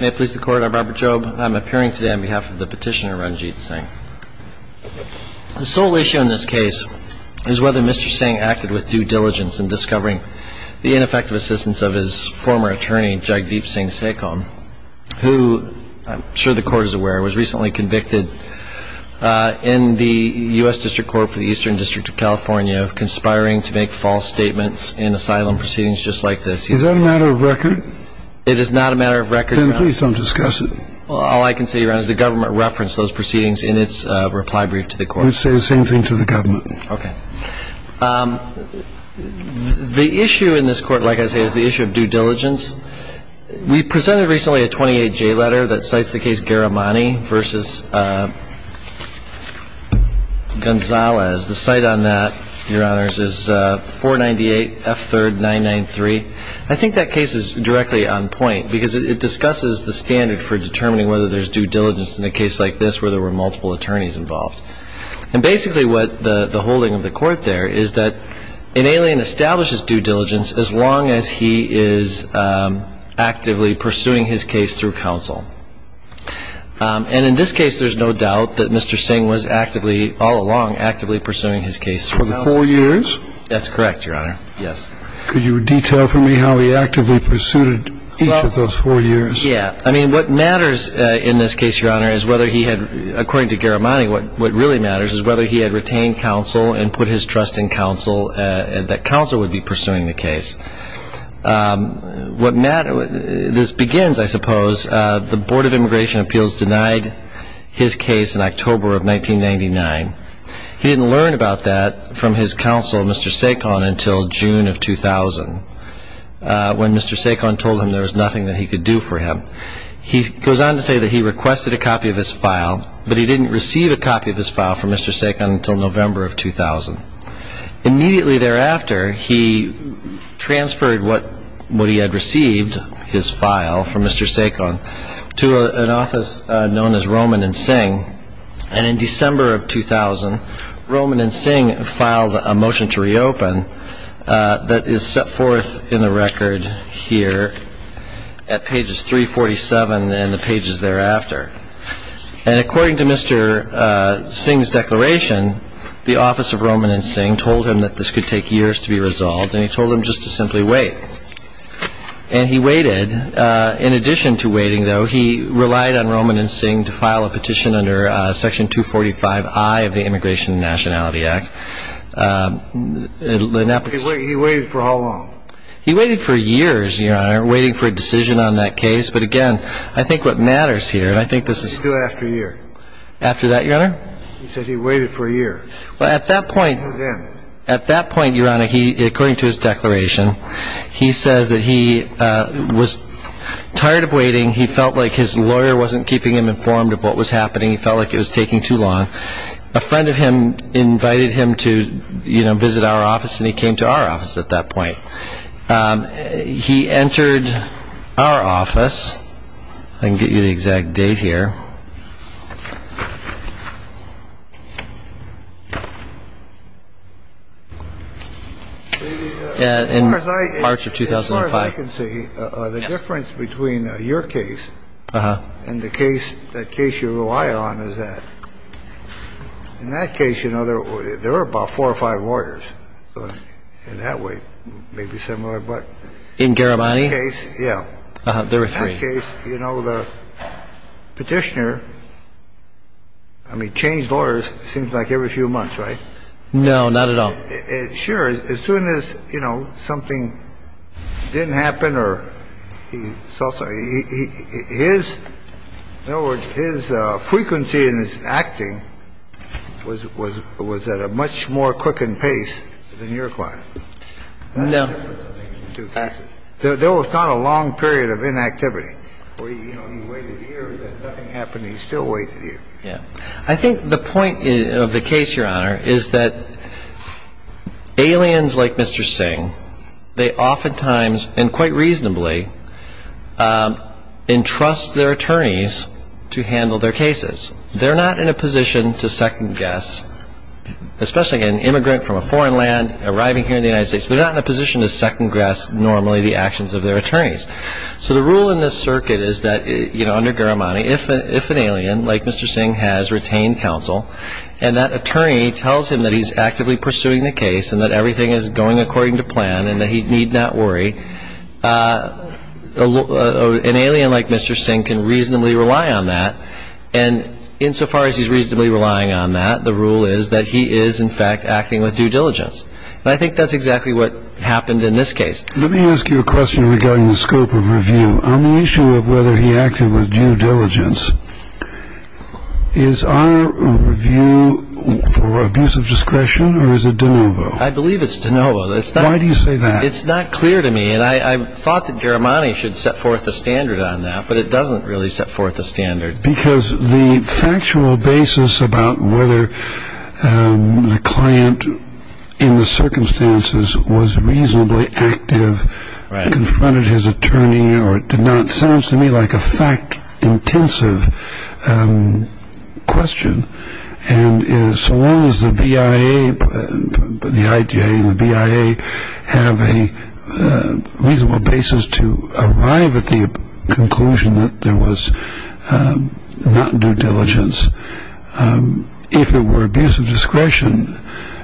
May it please the court, I'm Robert Jobe, and I'm appearing today on behalf of the petitioner Ranjit Singh. The sole issue in this case is whether Mr. Singh acted with due diligence in discovering the ineffective assistance of his former attorney, Jagdeep Singh Sekom, who, I'm sure the court is aware, was recently convicted in the U.S. District Court for the Eastern District of California of conspiring to make false statements in asylum proceedings just like this. Is that a matter of record? It is not a matter of record, Your Honor. Then please don't discuss it. All I can say, Your Honor, is the government referenced those proceedings in its reply brief to the court. I would say the same thing to the government. Okay. The issue in this court, like I say, is the issue of due diligence. We presented recently a 28-J letter that cites the case Garamani v. Gonzalez. The cite on that, Your Honors, is 498 F3rd 993. I think that case is directly on point because it discusses the standard for determining whether there's due diligence in a case like this where there were multiple attorneys involved. And basically what the holding of the court there is that an alien establishes due diligence as long as he is actively pursuing his case through counsel. And in this case, there's no doubt that Mr. Singh was actively, all along, actively pursuing his case through counsel. For the four years? That's correct, Your Honor. Yes. Could you detail for me how he actively pursued each of those four years? Yeah. I mean, what matters in this case, Your Honor, is whether he had, according to Garamani, what really matters is whether he had retained counsel and put his trust in counsel, that counsel would be pursuing the case. This begins, I suppose, the Board of Immigration Appeals denied his case in October of 1999. He didn't learn about that from his counsel, Mr. Saikon, until June of 2000, when Mr. Saikon told him there was nothing that he could do for him. He goes on to say that he requested a copy of his file, but he didn't receive a copy of his file from Mr. Saikon until November of 2000. Immediately thereafter, he transferred what he had received, his file, from Mr. Saikon to an office known as Roman and Singh. And in December of 2000, Roman and Singh filed a motion to reopen that is set forth in the record here at pages 347 and the pages thereafter. And according to Mr. Singh's declaration, the office of Roman and Singh told him that this could take years to be resolved, and he told him just to simply wait. And he waited. In addition to waiting, though, he relied on Roman and Singh to file a petition under Section 245I of the Immigration and Nationality Act. He waited for how long? He waited for years, Your Honor, waiting for a decision on that case. But, again, I think what matters here, and I think this is... What did he do after a year? After that, Your Honor? He said he waited for a year. Well, at that point... And then? At that point, Your Honor, he, according to his declaration, he says that he was tired of waiting. He felt like his lawyer wasn't keeping him informed of what was happening. He felt like it was taking too long. A friend of him invited him to, you know, visit our office, and he came to our office at that point. He entered our office. I can get you the exact date here. In March of 2005. As far as I can see, the difference between your case and the case you rely on is that in that case, you know, there were about four or five lawyers. In that way, maybe similar, but... In Garamani? In that case, yeah. There were three. In that case, you know, the petitioner, I mean, changed lawyers, it seems like, every few months, right? No, not at all. Sure. As soon as, you know, something didn't happen or he saw something, his, in other words, his frequency in his acting was at a much more quickened pace than your client. No. There was not a long period of inactivity where, you know, he waited years and nothing happened and he still waited years. I think the point of the case, Your Honor, is that aliens like Mr. Singh, they oftentimes, and quite reasonably, entrust their attorneys to handle their cases. They're not in a position to second guess, especially an immigrant from a foreign land arriving here in the United States, they're not in a position to second guess normally the actions of their attorneys. So the rule in this circuit is that, you know, under Garamani, if an alien like Mr. Singh has retained counsel and that attorney tells him that he's actively pursuing the case and that everything is going according to plan and that he need not worry, an alien like Mr. Singh can reasonably rely on that, and insofar as he's reasonably relying on that, the rule is that he is, in fact, acting with due diligence. And I think that's exactly what happened in this case. Let me ask you a question regarding the scope of review. On the issue of whether he acted with due diligence, is our review for abuse of discretion or is it de novo? I believe it's de novo. Why do you say that? It's not clear to me, and I thought that Garamani should set forth a standard on that, but it doesn't really set forth a standard. Because the factual basis about whether the client, in the circumstances, was reasonably active, confronted his attorney or did not, sounds to me like a fact-intensive question. And so long as the BIA, the IGA and the BIA have a reasonable basis to arrive at the conclusion that there was not due diligence, if it were abuse of discretion,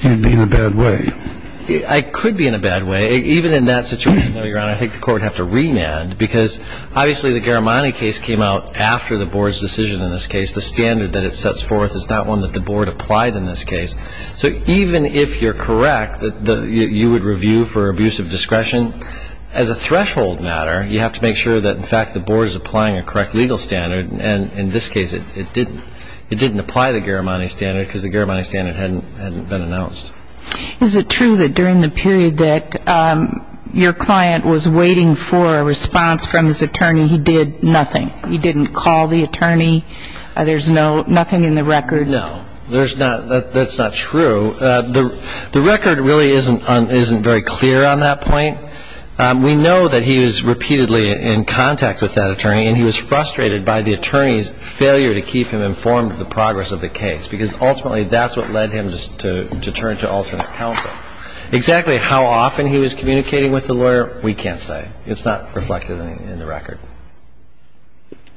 you'd be in a bad way. I could be in a bad way. Even in that situation, Your Honor, I think the court would have to remand, because obviously the Garamani case came out after the board's decision in this case. The standard that it sets forth is not one that the board applied in this case. So even if you're correct that you would review for abuse of discretion, as a threshold matter, you have to make sure that, in fact, the board is applying a correct legal standard. And in this case, it didn't. It didn't apply the Garamani standard because the Garamani standard hadn't been announced. Is it true that during the period that your client was waiting for a response from his attorney, he did nothing? He didn't call the attorney? There's nothing in the record? No. That's not true. The record really isn't very clear on that point. We know that he was repeatedly in contact with that attorney, and he was frustrated by the attorney's failure to keep him informed of the progress of the case, because ultimately that's what led him to turn to alternate counsel. Exactly how often he was communicating with the lawyer, we can't say. It's not reflected in the record.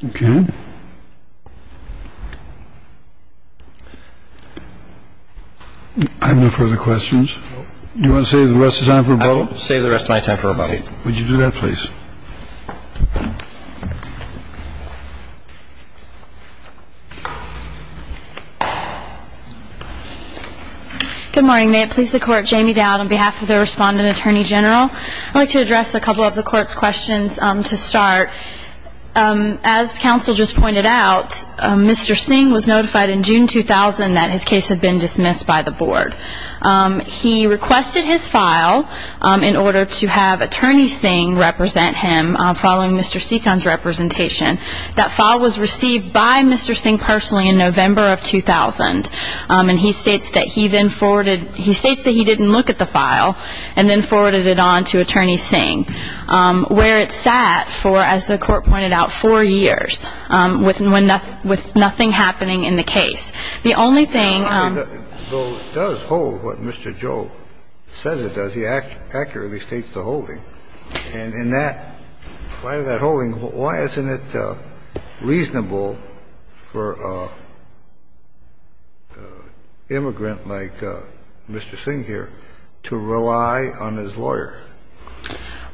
Okay. I have no further questions. You want to save the rest of my time for rebuttal? I will save the rest of my time for rebuttal. Okay. Would you do that, please? Good morning. May it please the Court, Jamie Dowd on behalf of the Respondent Attorney General. I'd like to address a couple of the Court's questions to start. As counsel just pointed out, Mr. Singh was notified in June 2000 that his case had been dismissed by the Board. He requested his file in order to have Attorney Singh represent him following Mr. Seekon's representation. That file was received by Mr. Singh personally in November of 2000, and he states that he then forwarded – he states that he didn't look at the file and then forwarded it on to Attorney Singh, where it sat for, as the Court pointed out, four years, with nothing happening in the case. The only thing – Well, it does hold what Mr. Joe says it does. He accurately states the holding. And in that – why is that holding? Why isn't it reasonable for an immigrant like Mr. Singh here to rely on his lawyer?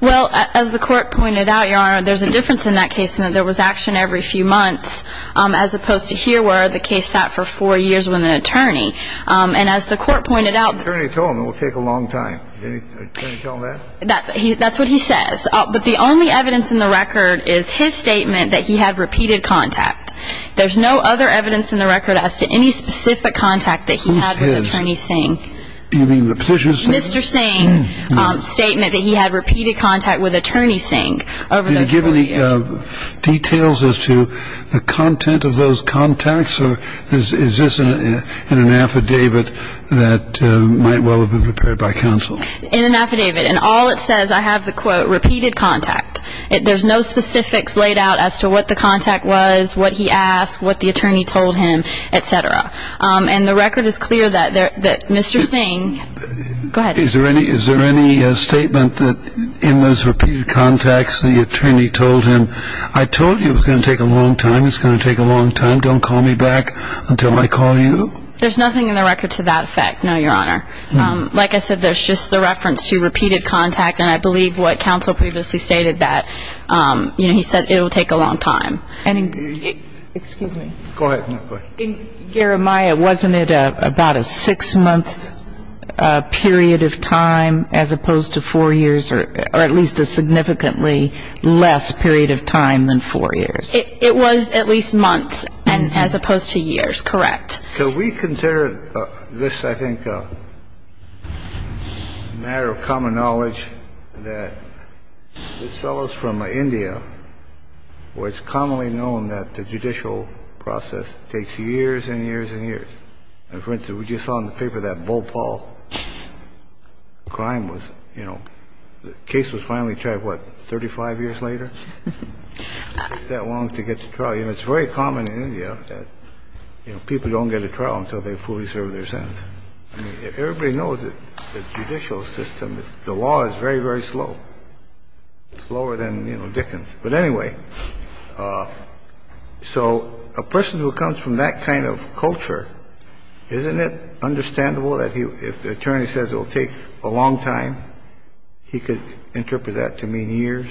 Well, as the Court pointed out, Your Honor, there's a difference in that case in that there was action every few months, as opposed to here where the case sat for four years with an attorney. And as the Court pointed out – Attorney told him it will take a long time. Did Attorney tell him that? That's what he says. But the only evidence in the record is his statement that he had repeated contact. There's no other evidence in the record as to any specific contact that he had with Attorney Singh. You mean the position statement? Mr. Singh's statement that he had repeated contact with Attorney Singh over those four years. Did he give any details as to the content of those contacts, or is this in an affidavit that might well have been prepared by counsel? In an affidavit. In all it says, I have the quote, repeated contact. There's no specifics laid out as to what the contact was, what he asked, what the attorney told him, et cetera. And the record is clear that Mr. Singh – go ahead. Is there any statement that in those repeated contacts the attorney told him, I told you it was going to take a long time, it's going to take a long time, don't call me back until I call you? There's nothing in the record to that effect, no, Your Honor. Like I said, there's just the reference to repeated contact, and I believe what counsel previously stated that, you know, he said it will take a long time. Excuse me. Go ahead. In Garamaya, wasn't it about a six-month period of time as opposed to four years, or at least a significantly less period of time than four years? It was at least months as opposed to years, correct. Can we consider this, I think, a matter of common knowledge that this fellow is from India where it's commonly known that the judicial process takes years and years and years. And, for instance, we just saw in the paper that Bhopal crime was, you know, the case was finally tried, what, 35 years later? It took that long to get to trial. I mean, it's very common in India that, you know, people don't get a trial until they fully serve their sentence. I mean, everybody knows that the judicial system, the law is very, very slow. It's slower than, you know, Dickens. But anyway, so a person who comes from that kind of culture, isn't it understandable that if the attorney says it will take a long time, he could interpret that to mean years?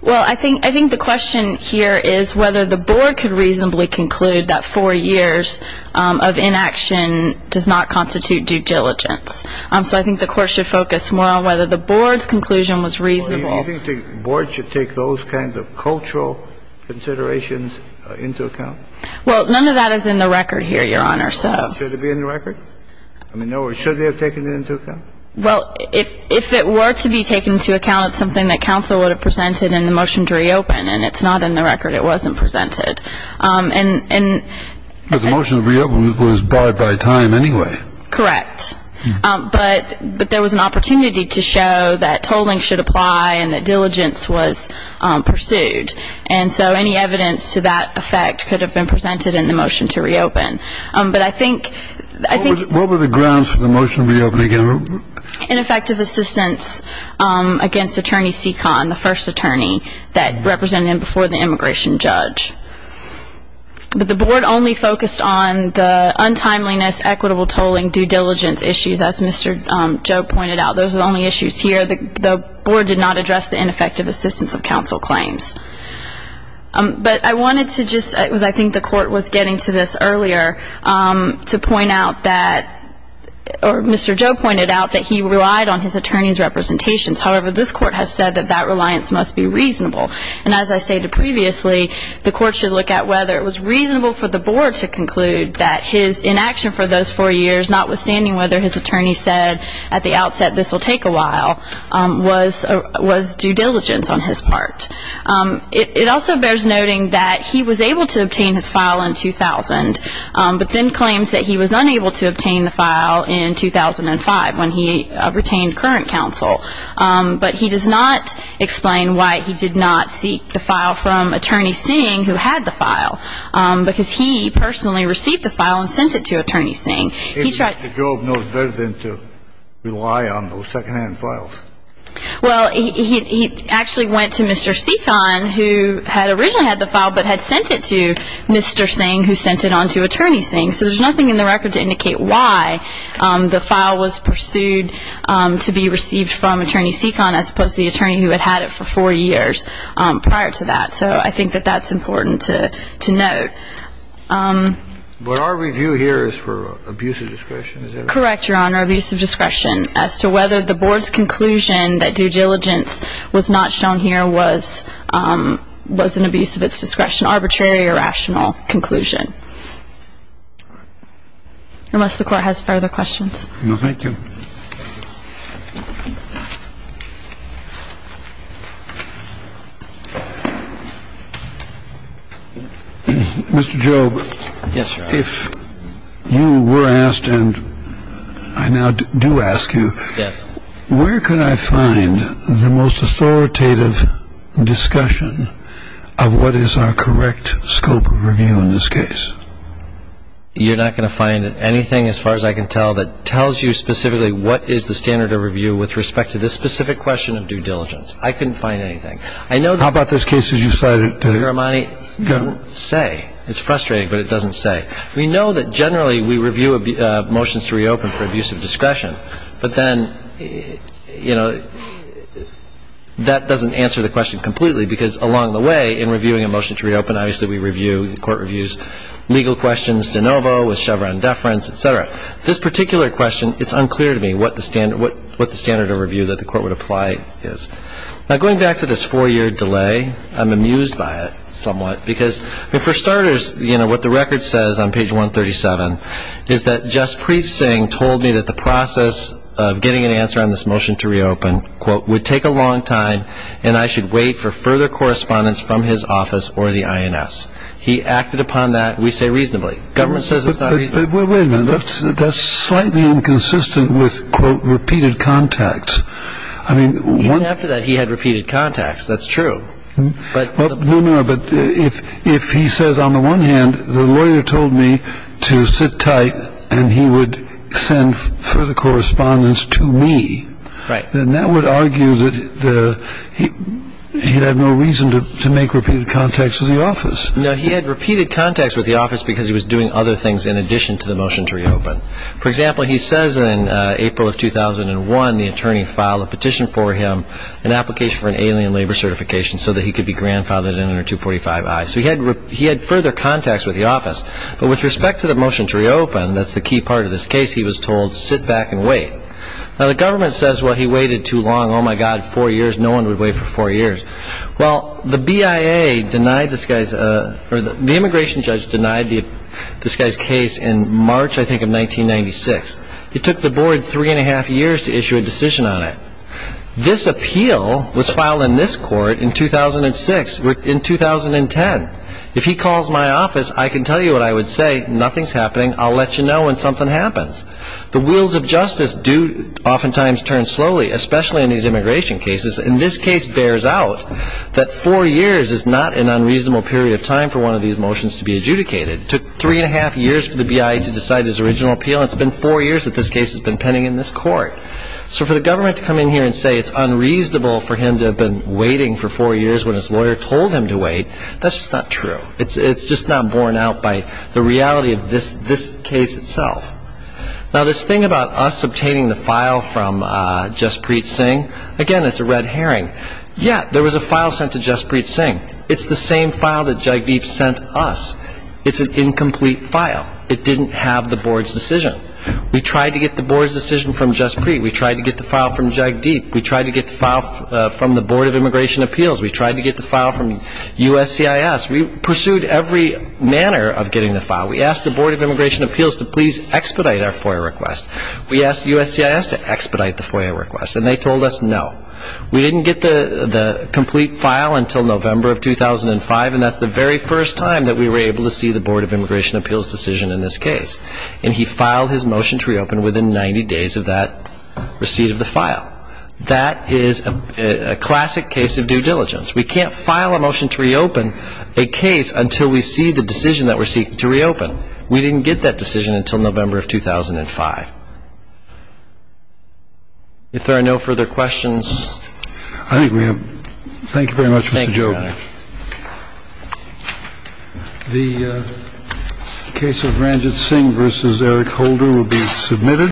Well, I think the question here is whether the board could reasonably conclude that four years of inaction does not constitute due diligence. So I think the Court should focus more on whether the board's conclusion was reasonable. Well, do you think the board should take those kinds of cultural considerations into account? Well, none of that is in the record here, Your Honor, so. Should it be in the record? I mean, should they have taken it into account? Well, if it were to be taken into account, it's something that counsel would have presented in the motion to reopen. And it's not in the record. It wasn't presented. But the motion to reopen was barred by time anyway. Correct. But there was an opportunity to show that tolling should apply and that diligence was pursued. And so any evidence to that effect could have been presented in the motion to reopen. What were the grounds for the motion to reopen, again? Ineffective assistance against Attorney Seekon, the first attorney, that represented him before the immigration judge. But the board only focused on the untimeliness, equitable tolling, due diligence issues, as Mr. Joe pointed out. Those are the only issues here. The board did not address the ineffective assistance of counsel claims. But I wanted to just, because I think the court was getting to this earlier, to point out that, or Mr. Joe pointed out that he relied on his attorney's representations. However, this court has said that that reliance must be reasonable. And as I stated previously, the court should look at whether it was reasonable for the board to conclude that his inaction for those four years, notwithstanding whether his attorney said at the outset this will take a while, was due diligence on his part. It also bears noting that he was able to obtain his file in 2000, but then claims that he was unable to obtain the file in 2005 when he retained current counsel. But he does not explain why he did not seek the file from Attorney Singh, who had the file, because he personally received the file and sent it to Attorney Singh. And Mr. Jobe knows better than to rely on those secondhand files. Well, he actually went to Mr. Seekon, who had originally had the file, but had sent it to Mr. Singh, who sent it on to Attorney Singh. So there's nothing in the record to indicate why the file was pursued to be received from Attorney Seekon, as opposed to the attorney who had had it for four years prior to that. So I think that that's important to note. But our review here is for abuse of discretion. Correct, Your Honor, abuse of discretion. As to whether the board's conclusion that due diligence was not shown here was an abuse of its discretion, arbitrary or rational conclusion. Unless the Court has further questions. No, thank you. Mr. Jobe. Yes, Your Honor. If you were asked, and I now do ask you. Yes. Where could I find the most authoritative discussion of what is our correct scope of review in this case? You're not going to find anything, as far as I can tell, that tells you specifically what is the standard of review with respect to this specific question of due diligence. I couldn't find anything. How about those cases you cited? Mr. Armani, it doesn't say. It's frustrating, but it doesn't say. We know that generally we review motions to reopen for abuse of discretion. But then, you know, that doesn't answer the question completely, because along the way in reviewing a motion to reopen, obviously we review court reviews, legal questions, de novo, with Chevron deference, et cetera. This particular question, it's unclear to me what the standard of review that the Court would apply is. Now, going back to this four-year delay, I'm amused by it somewhat. Because, I mean, for starters, you know, what the record says on page 137 is that Juspreet Singh told me that the process of getting an answer on this motion to reopen, quote, would take a long time and I should wait for further correspondence from his office or the INS. He acted upon that, we say reasonably. Government says it's not reasonable. But wait a minute. That's slightly inconsistent with, quote, repeated contacts. I mean, one- Even after that, he had repeated contacts. That's true. But- No, no. But if he says, on the one hand, the lawyer told me to sit tight and he would send further correspondence to me- Then that would argue that he'd have no reason to make repeated contacts with the office. No, he had repeated contacts with the office because he was doing other things in addition to the motion to reopen. For example, he says in April of 2001, the attorney filed a petition for him, an application for an alien labor certification, so that he could be grandfathered in under 245I. So he had further contacts with the office. But with respect to the motion to reopen, that's the key part of this case, he was told, sit back and wait. Now, the government says, well, he waited too long. Oh, my God, four years. No one would wait for four years. Well, the BIA denied this guy's- The immigration judge denied this guy's case in March, I think, of 1996. It took the board three and a half years to issue a decision on it. This appeal was filed in this court in 2006, in 2010. If he calls my office, I can tell you what I would say. Nothing's happening. I'll let you know when something happens. The wheels of justice do oftentimes turn slowly, especially in these immigration cases. And this case bears out that four years is not an unreasonable period of time for one of these motions to be adjudicated. It took three and a half years for the BIA to decide his original appeal, and it's been four years that this case has been pending in this court. So for the government to come in here and say it's unreasonable for him to have been waiting for four years when his lawyer told him to wait, that's just not true. It's just not borne out by the reality of this case itself. Now, this thing about us obtaining the file from Jaspreet Singh, again, it's a red herring. Yeah, there was a file sent to Jaspreet Singh. It's the same file that Jagdeep sent us. It's an incomplete file. It didn't have the board's decision. We tried to get the board's decision from Jaspreet. We tried to get the file from Jagdeep. We tried to get the file from the Board of Immigration Appeals. We tried to get the file from USCIS. We pursued every manner of getting the file. We asked the Board of Immigration Appeals to please expedite our FOIA request. We asked USCIS to expedite the FOIA request, and they told us no. We didn't get the complete file until November of 2005, and that's the very first time that we were able to see the Board of Immigration Appeals' decision in this case. And he filed his motion to reopen within 90 days of that receipt of the file. That is a classic case of due diligence. We can't file a motion to reopen a case until we see the decision that we're seeking to reopen. We didn't get that decision until November of 2005. If there are no further questions. I think we have. Thank you very much, Mr. Jordan. Thank you, Your Honor. The case of Ranjit Singh v. Eric Holder will be submitted.